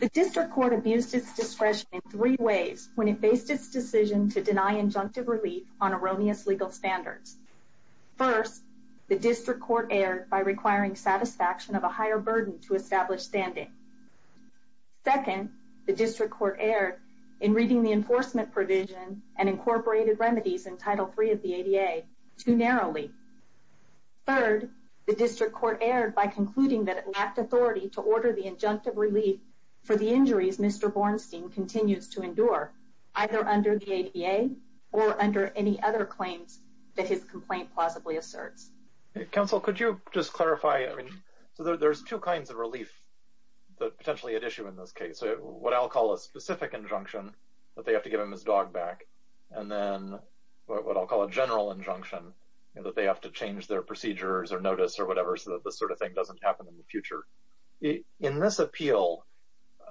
The District Court abused its discretion in three ways when it faced its decision to deny injunctive relief on erroneous legal standards. First, the District Court erred by requiring satisfaction of a higher burden to establish standing. Second, the District Court erred in reading the enforcement provision and incorporated remedies in Title III of the ADA too narrowly. Third, the District Court erred by concluding that it lacked authority to order the injunctive relief for the injuries Mr. Borenstein continues to endure, either under the ADA or under any other claims that his complaint plausibly asserts. Counsel, could you just clarify, I mean, so there's two kinds of relief that potentially at issue in this case. What I'll call a specific injunction, that they have to give him his dog back, and then what I'll call a general injunction, that they have to change their procedures or notice or whatever so that this sort of thing doesn't happen in the future. In this appeal,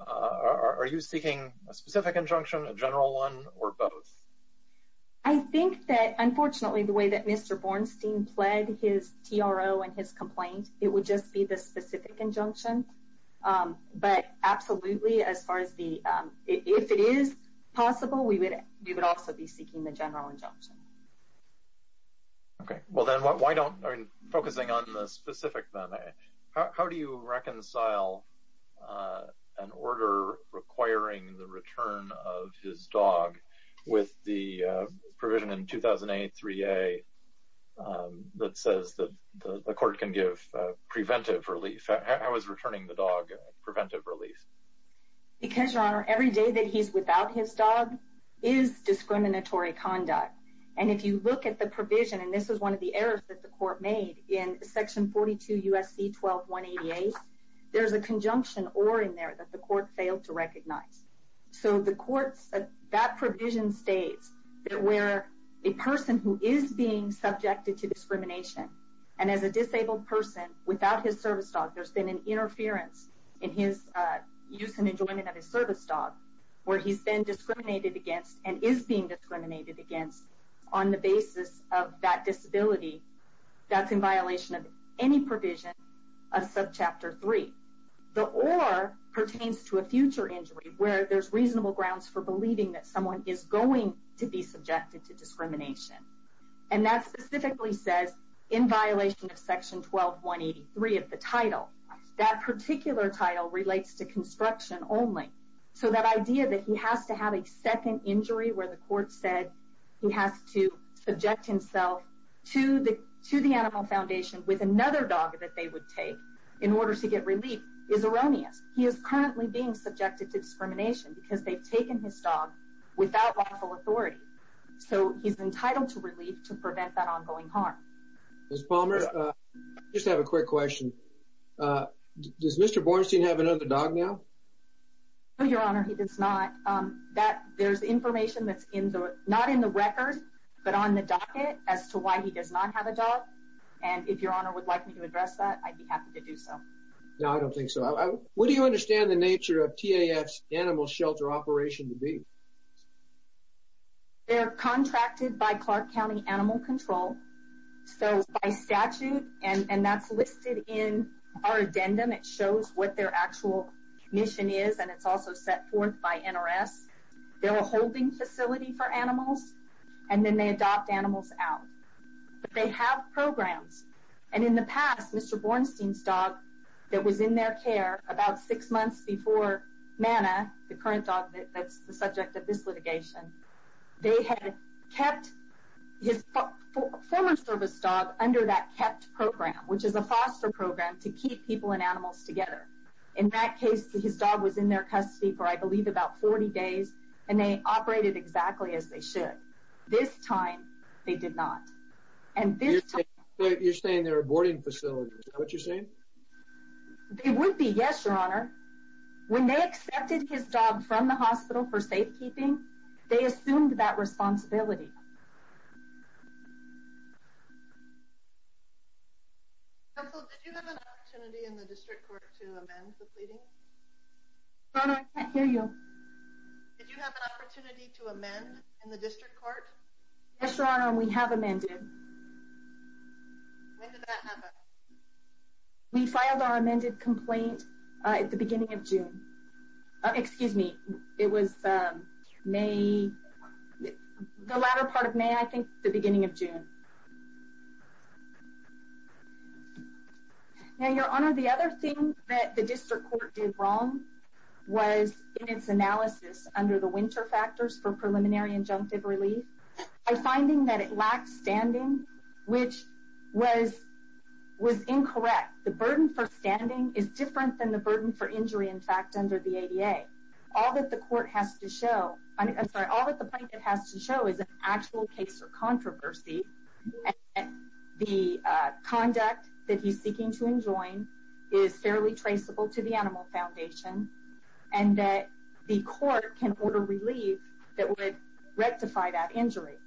are you seeking a specific injunction, a general one, or both? I think that, unfortunately, the way that Mr. Borenstein pled his TRO and his complaint, it would just be the specific injunction. But absolutely, as far as the, if it is possible, we would also be seeking the general injunction. Okay, well then why don't, focusing on the specific then, how do you reconcile an order requiring the return of his dog with the provision in 2008-3A that says that the court can give preventive relief? How is returning the dog preventive relief? Because, Your Honor, every day that he's without his dog is discriminatory conduct. And if you look at the provision, and this is one of the errors that the court made in Section 42 U.S.C. 12-188, there's a conjunction or in there that the court failed to recognize. So the court's, that provision states that where a person who is being subjected to discrimination, and as a disabled person, without his service dog, there's been an interference in his use and enjoyment of his service dog, where he's been discriminated against and is being discriminated against on the basis of that disability, that's in violation of any provision of Subchapter 3. The or pertains to a future injury where there's reasonable grounds for believing that someone is going to be subjected to discrimination. And that specifically says, in violation of Section 12-183 of the title, that particular title relates to construction only. So that idea that he has to have a second injury where the court said he has to subject himself to the Animal Foundation with another dog that they would take in order to get relief is erroneous. He is currently being subjected to discrimination because they've taken his dog without lawful authority. So he's entitled to relief to prevent that ongoing harm. Ms. Palmer, I just have a quick question. Does Mr. Bornstein have another dog now? No, Your Honor, he does not. There's information that's in the, not in the record, but on the docket as to why he does not have a dog. And if Your Honor would like me to address that, I'd be happy to do so. No, I don't think so. What do you understand the nature of TAF's animal shelter operation to be? They're contracted by Clark County Animal Control, so by statute, and that's listed in our addendum. It shows what their actual mission is, and it's also set forth by NRS. They're a holding facility for animals, and then they adopt animals out. They have programs, and in the past, Mr. Bornstein's dog that was in their care about six months before Manna, the current dog that's the subject of this litigation, they had kept his former service dog under that KEPT program, which is a foster program to keep people and animals together. In that case, his dog was in their custody for, I believe, about 40 days, and they operated exactly as they should. This time, they did not. You're saying they're a boarding facility. Is that what you're saying? They would be, yes, Your Honor. When they accepted his dog from the hospital for safekeeping, they assumed that responsibility. Counsel, did you have an opportunity in the district court to amend the pleadings? No, no, I can't hear you. Did you have an opportunity to amend in the district court? Yes, Your Honor, and we have amended. When did that happen? We filed our amended complaint at the beginning of June. Excuse me, it was May, the latter part of May, I think, the beginning of June. Now, Your Honor, the other thing that the district court did wrong was, in its analysis, under the winter factors for preliminary injunctive relief, by finding that it lacked standing, which was incorrect. The burden for standing is different than the burden for injury, in fact, under the ADA. All that the plaintiff has to show is an actual case of controversy, and the conduct that he's seeking to enjoin is fairly traceable to the Animal Foundation, and that the court can order relief that would rectify that injury.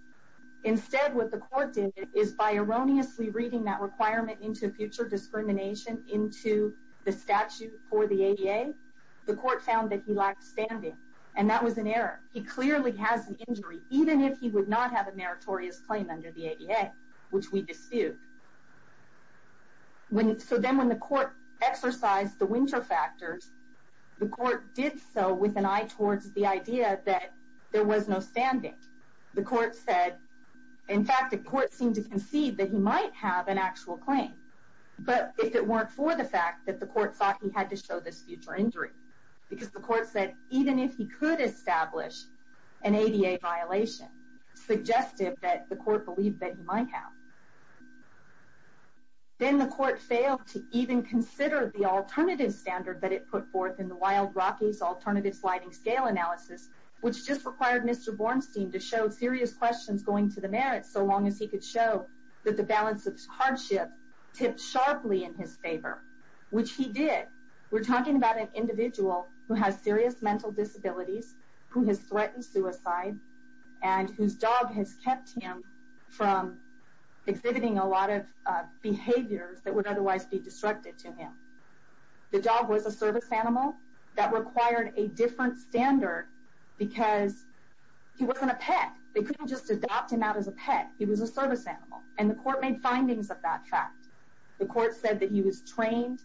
Instead, what the court did is, by erroneously reading that requirement into future discrimination into the statute for the ADA, the court found that he lacked standing, and that was an error. He clearly has an injury, even if he would not have a meritorious claim under the ADA, which we dispute. So then when the court exercised the winter factors, the court did so with an eye towards the idea that there was no standing. The court said, in fact, the court seemed to concede that he might have an actual claim, but if it weren't for the fact that the court thought he had to show this future injury. Because the court said, even if he could establish an ADA violation, it suggested that the court believed that he might have. Then the court failed to even consider the alternative standard that it put forth in the Wild Rockies Alternative Sliding Scale Analysis, which just required Mr. Bornstein to show serious questions going to the merits, so long as he could show that the balance of hardship tipped sharply in his favor, which he did. We're talking about an individual who has serious mental disabilities, who has threatened suicide, and whose dog has kept him from exhibiting a lot of behaviors that would otherwise be destructive to him. The dog was a service animal that required a different standard because he wasn't a pet. They couldn't just adopt him out as a pet. He was a service animal. And the court made findings of that fact. The court said that he was trained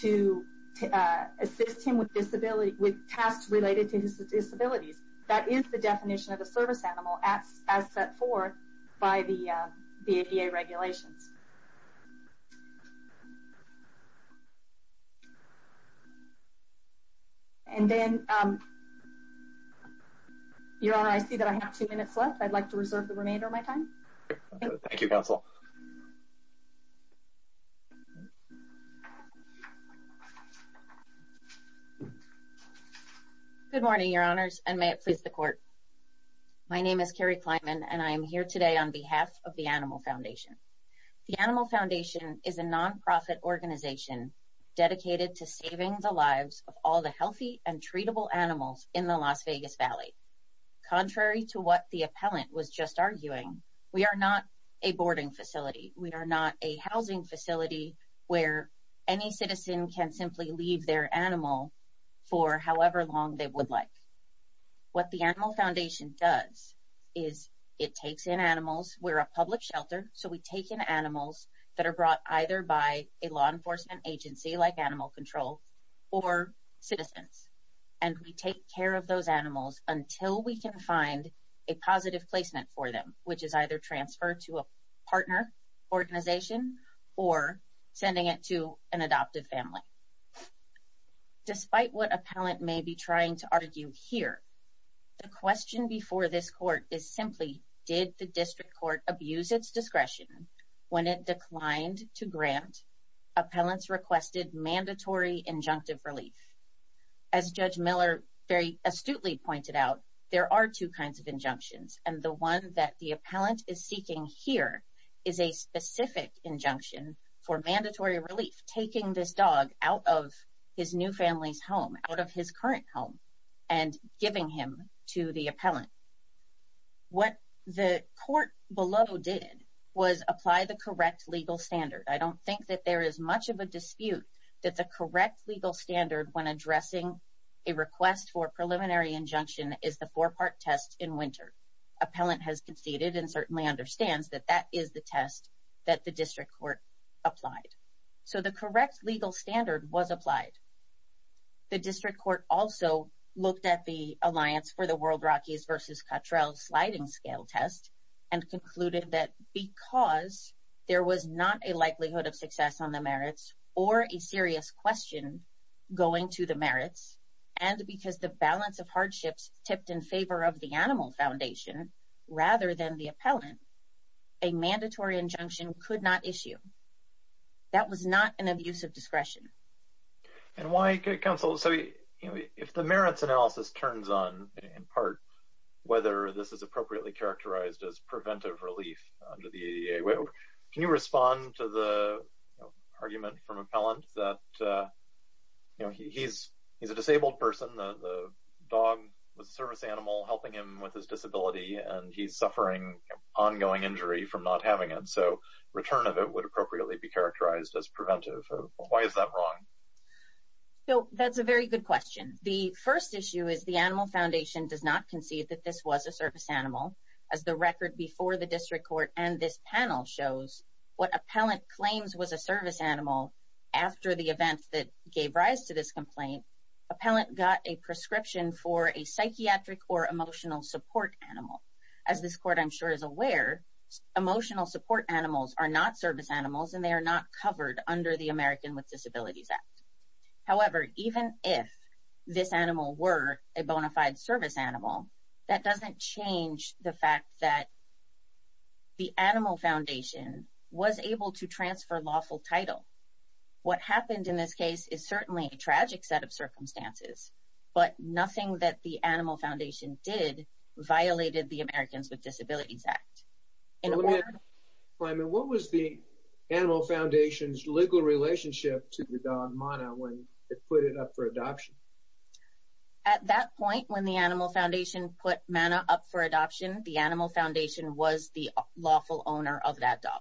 to assist him with tasks related to his disabilities. That is the definition of a service animal as set forth by the ADA regulations. And then, Your Honor, I see that I have two minutes left. I'd like to reserve the remainder of my time. Thank you, Counsel. Good morning, Your Honors, and may it please the Court. My name is Carrie Kleinman, and I am here today on behalf of the Animal Foundation. The Animal Foundation is a nonprofit organization dedicated to saving the lives of all the healthy and treatable animals in the Las Vegas Valley. Contrary to what the appellant was just arguing, we are not a boarding facility. We are not a housing facility where any citizen can simply leave their animal for however long they would like. What the Animal Foundation does is it takes in animals. We're a public shelter, so we take in animals that are brought either by a law enforcement agency like Animal Control or citizens. And we take care of those animals until we can find a positive placement for them, which is either transfer to a partner organization or sending it to an adoptive family. Despite what appellant may be trying to argue here, the question before this Court is simply, did the District Court abuse its discretion when it declined to grant appellants requested mandatory injunctive relief? As Judge Miller very astutely pointed out, there are two kinds of injunctions, and the one that the appellant is seeking here is a specific injunction for mandatory relief, taking this dog out of his new family's home, out of his current home, and giving him to the appellant. What the Court below did was apply the correct legal standard. I don't think that there is much of a dispute that the correct legal standard when addressing a request for a preliminary injunction is the four-part test in winter. Appellant has conceded and certainly understands that that is the test that the District Court applied. So the correct legal standard was applied. The District Court also looked at the alliance for the World Rockies v. Cottrell sliding scale test and concluded that because there was not a likelihood of success on the merits or a serious question going to the merits, and because the balance of hardships tipped in favor of the Animal Foundation rather than the appellant, a mandatory injunction could not issue. That was not an abuse of discretion. And why, Counsel, if the merits analysis turns on, in part, whether this is appropriately characterized as preventive relief under the ADA, can you respond to the argument from appellant that he's a disabled person, the dog was a service animal helping him with his disability, and he's suffering ongoing injury from not having it. So return of it would appropriately be characterized as preventive. Why is that wrong? That's a very good question. The first issue is the Animal Foundation does not concede that this was a service animal. As the record before the District Court and this panel shows, what appellant claims was a service animal after the event that gave rise to this complaint, appellant got a prescription for a psychiatric or emotional support animal. As this court, I'm sure, is aware, emotional support animals are not service animals, and they are not covered under the American with Disabilities Act. However, even if this animal were a bona fide service animal, that doesn't change the fact that the Animal Foundation was able to transfer lawful title. What happened in this case is certainly a tragic set of circumstances, but nothing that the Animal Foundation did violated the Americans with Disabilities Act. What was the Animal Foundation's legal relationship to the dog, Mana, when it put it up for adoption? At that point, when the Animal Foundation put Mana up for adoption, the Animal Foundation was the lawful owner of that dog.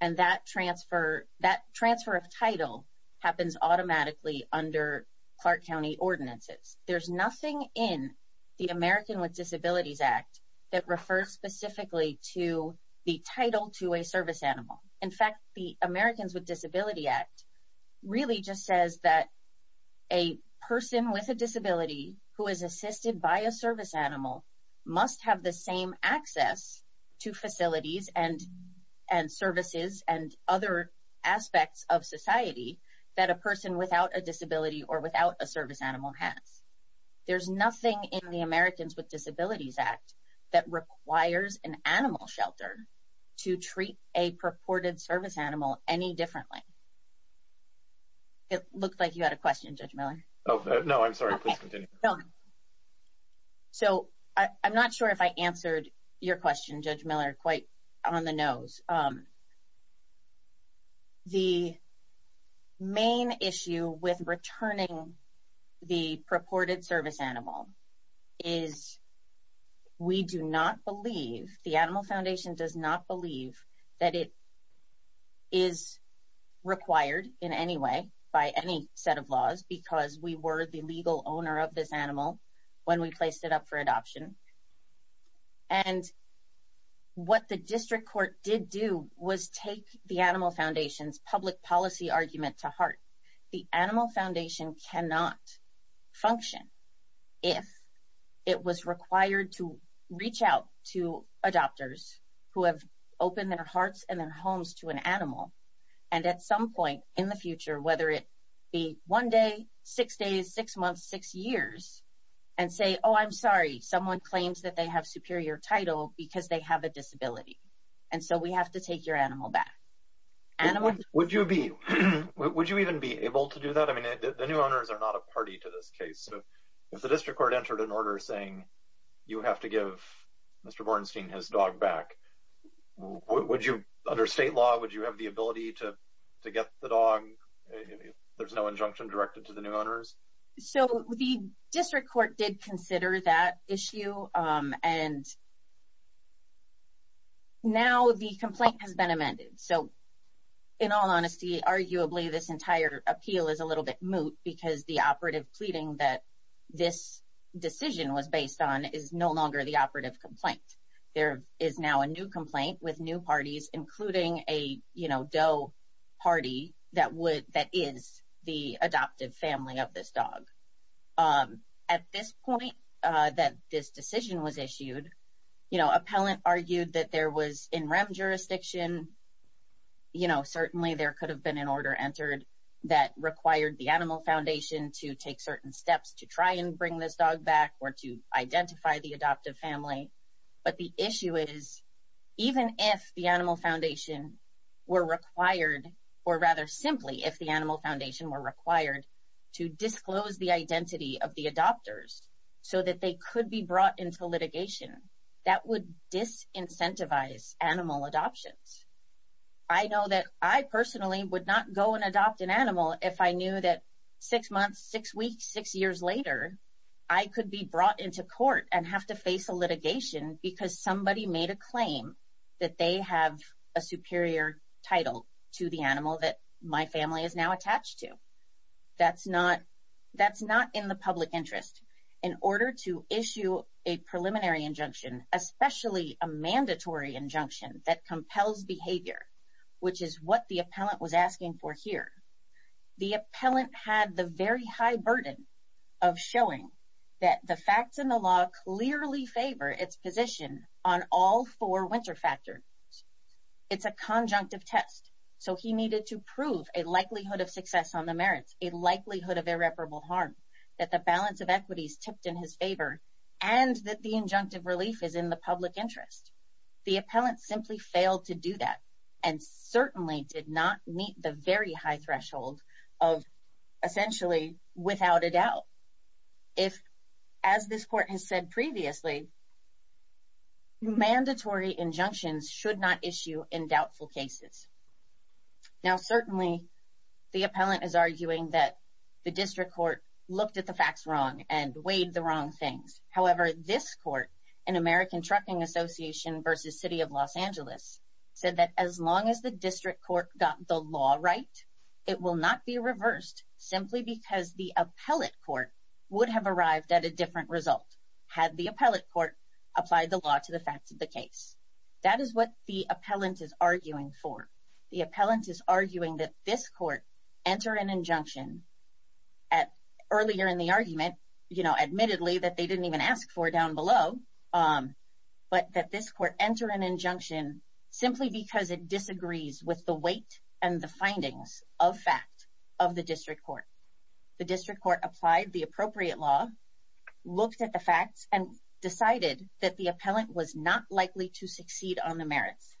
And that transfer of title happens automatically under Clark County ordinances. There's nothing in the American with Disabilities Act that refers specifically to the title to a service animal. In fact, the Americans with Disabilities Act really just says that a person with a disability who is assisted by a service animal must have the same access to facilities and services and other aspects of society that a person without a disability or without a service animal has. There's nothing in the Americans with Disabilities Act that requires an animal shelter to treat a purported service animal any differently. It looked like you had a question, Judge Miller. No, I'm sorry. Please continue. So, I'm not sure if I answered your question, Judge Miller, quite on the nose. The main issue with returning the purported service animal is that we do not believe, the Animal Foundation does not believe that it is required in any way by any set of laws because we were the legal owner of this animal when we placed it up for adoption. And what the district court did do was take the Animal Foundation's public policy argument to heart. The Animal Foundation cannot function if it was required to reach out to adopters who have opened their hearts and their homes to an animal. And at some point in the future, whether it be one day, six days, six months, six years, and say, oh, I'm sorry, someone claims that they have superior title because they have a disability. And so we have to take your animal back. Would you even be able to do that? I mean, the new owners are not a party to this case. If the district court entered an order saying you have to give Mr. Bornstein his dog back, would you, under state law, would you have the ability to get the dog if there's no injunction directed to the new owners? So, the district court did consider that issue, and now the complaint has been amended. So, in all honesty, arguably, this entire appeal is a little bit moot because the operative pleading that this decision was based on is no longer the operative complaint. There is now a new complaint with new parties, including a, you know, DOE party that is the adoptive family of this dog. At this point that this decision was issued, you know, certainly there could have been an order entered that required the Animal Foundation to take certain steps to try and bring this dog back or to identify the adoptive family. But the issue is, even if the Animal Foundation were required, or rather simply if the Animal Foundation were required, to disclose the identity of the adopters so that they could be brought into litigation, that would disincentivize animal adoptions. I know that I personally would not go and adopt an animal if I knew that six months, six weeks, six years later, I could be brought into court and have to face a litigation because somebody made a claim that they have a superior title to the animal that my family is now attached to. That's not in the public interest. In order to issue a preliminary injunction, especially a mandatory injunction that compels behavior, which is what the appellant was asking for here, the appellant had the very high burden of showing that the facts in the law clearly favor its position on all four winter factors. It's a conjunctive test. So he needed to prove a likelihood of success on the merits, a likelihood of irreparable harm, that the balance of equity is tipped in his favor, and that the injunctive relief is in the public interest. The appellant simply failed to do that and certainly did not meet the very high threshold of essentially without a doubt. If, as this court has said previously, mandatory injunctions should not issue in doubtful cases. Now certainly the appellant is arguing that the district court looked at the facts wrong and weighed the wrong things. However, this court, an American Trucking Association versus City of Los Angeles, said that as long as the district court got the law right, it will not be reversed simply because the appellate court would have arrived at a different result had the appellate court applied the law to the facts of the case. That is what the appellant is arguing for. The appellant is arguing that this court enter an injunction earlier in the argument, admittedly that they didn't even ask for down below, but that this court enter an injunction simply because it disagrees with the weight and the findings of fact of the district court. The district court applied the appropriate law, looked at the facts, and decided that the appellant was not likely to succeed on the merits.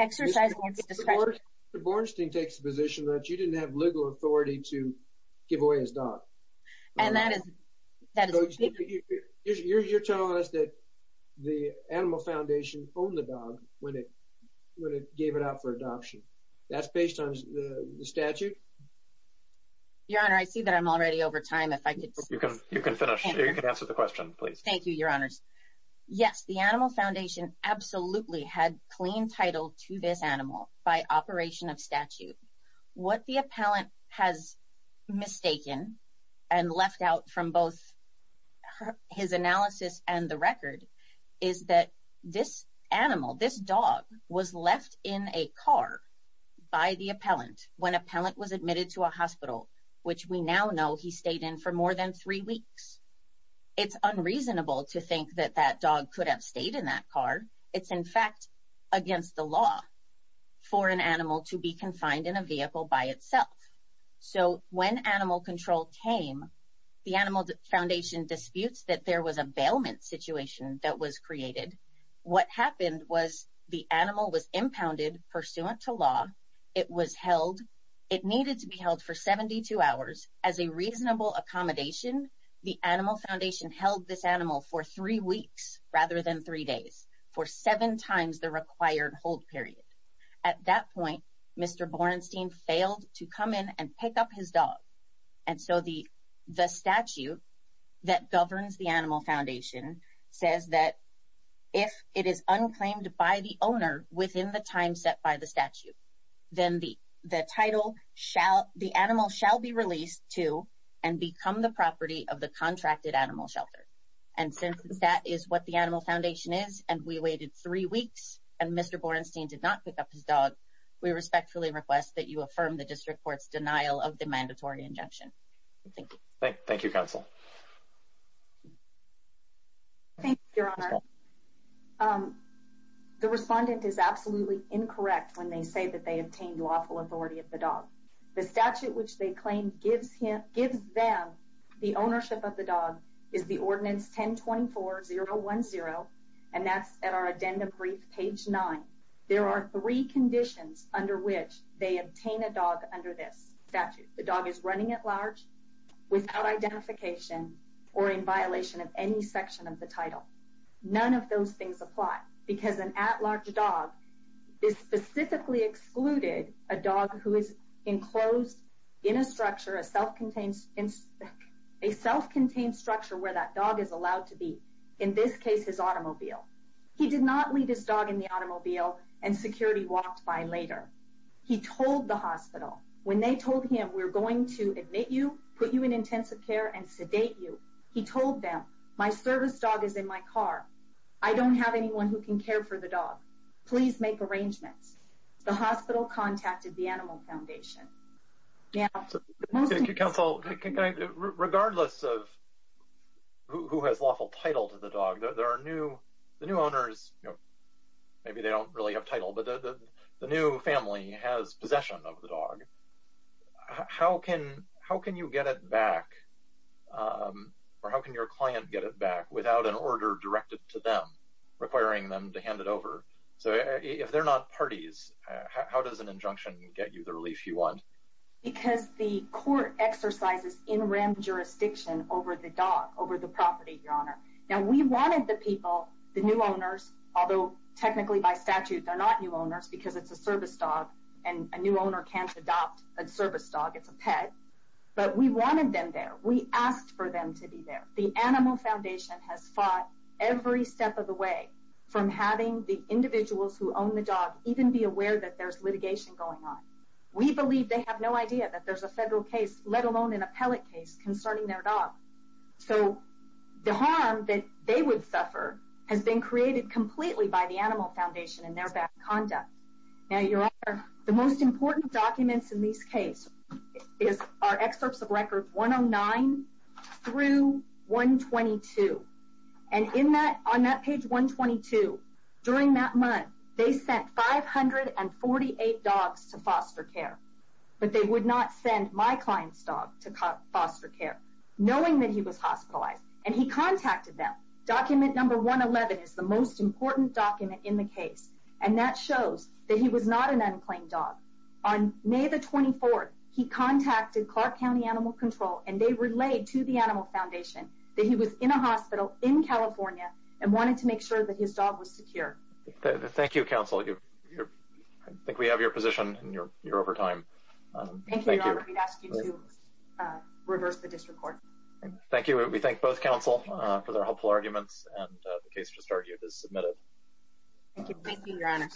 Mr. Bornstein takes the position that you didn't have legal authority to give away his dog. You're telling us that the Animal Foundation owned the dog when it gave it out for adoption. That's based on the statute? Your Honor, I see that I'm already over time. You can finish. You can answer the question, please. Thank you, Your Honors. Yes, the Animal Foundation absolutely had clean title to this animal by operation of statute. What the appellant has mistaken and left out from both his analysis and the record is that this animal, this dog, was left in a car by the appellant when appellant was admitted to a hospital, which we now know he stayed in for more than three weeks. It's unreasonable to think that that dog could have stayed in that car. It's, in fact, against the law for an animal to be confined in a vehicle by itself. So when animal control came, the Animal Foundation disputes that there was a bailment situation that was created. What happened was the animal was impounded pursuant to law. It was held. It needed to be held for 72 hours. As a reasonable accommodation, the Animal Foundation held this animal for three weeks rather than three days for seven times the required hold period. At that point, Mr. Borenstein failed to come in and pick up his dog. And so the statute that governs the Animal Foundation says that if it is unclaimed by the owner within the time set by the statute, then the animal shall be released to and become the property of the contracted animal shelter. And since that is what the Animal Foundation is, and we waited three weeks, and Mr. Borenstein did not pick up his dog, we respectfully request that you affirm the district court's denial of the mandatory injunction. Thank you. Thank you, Counsel. Thank you, Your Honor. The respondent is absolutely incorrect when they say that they obtained lawful authority of the dog. The statute which they claim gives them the ownership of the dog is the Ordinance 1024-010, and that's at our addendum brief, page 9. There are three conditions under which they obtain a dog under this statute. The dog is running at large, without identification, or in violation of any section of the title. None of those things apply, because an at-large dog is specifically excluded, a dog who is enclosed in a self-contained structure where that dog is allowed to be, in this case his automobile. He did not leave his dog in the automobile and security walked by later. He told the hospital, when they told him, we're going to admit you, put you in intensive care, and sedate you. He told them, my service dog is in my car. I don't have anyone who can care for the dog. Please make arrangements. The hospital contacted the Animal Foundation. Counsel, regardless of who has lawful title to the dog, there are new owners, maybe they don't really have title, but the new family has possession of the dog. How can you get it back, or how can your client get it back, without an order directed to them, requiring them to hand it over? So if they're not parties, how does an injunction get you the relief you want? Because the court exercises in rem jurisdiction over the dog, over the property, Your Honor. Now we wanted the people, the new owners, although technically by statute they're not new owners, because it's a service dog, and a new owner can't adopt a service dog, it's a pet. But we wanted them there. We asked for them to be there. The Animal Foundation has fought every step of the way from having the individuals who own the dog even be aware that there's litigation going on. We believe they have no idea that there's a federal case, let alone an appellate case, concerning their dog. So the harm that they would suffer has been created completely by the Animal Foundation and their bad conduct. Now Your Honor, the most important documents in this case are excerpts of records 109 through 122. And on that page 122, during that month, they sent 548 dogs to foster care. But they would not send my client's dog to foster care. Knowing that he was hospitalized. And he contacted them. Document number 111 is the most important document in the case. And that shows that he was not an unclaimed dog. On May the 24th, he contacted Clark County Animal Control and they relayed to the Animal Foundation that he was in a hospital in California and wanted to make sure that his dog was secure. Thank you, counsel. I think we have your position and you're over time. Thank you, Your Honor. We'd ask you to reverse the district court. Thank you. We thank both counsel for their helpful arguments. And the case just argued is submitted. Thank you, Your Honor.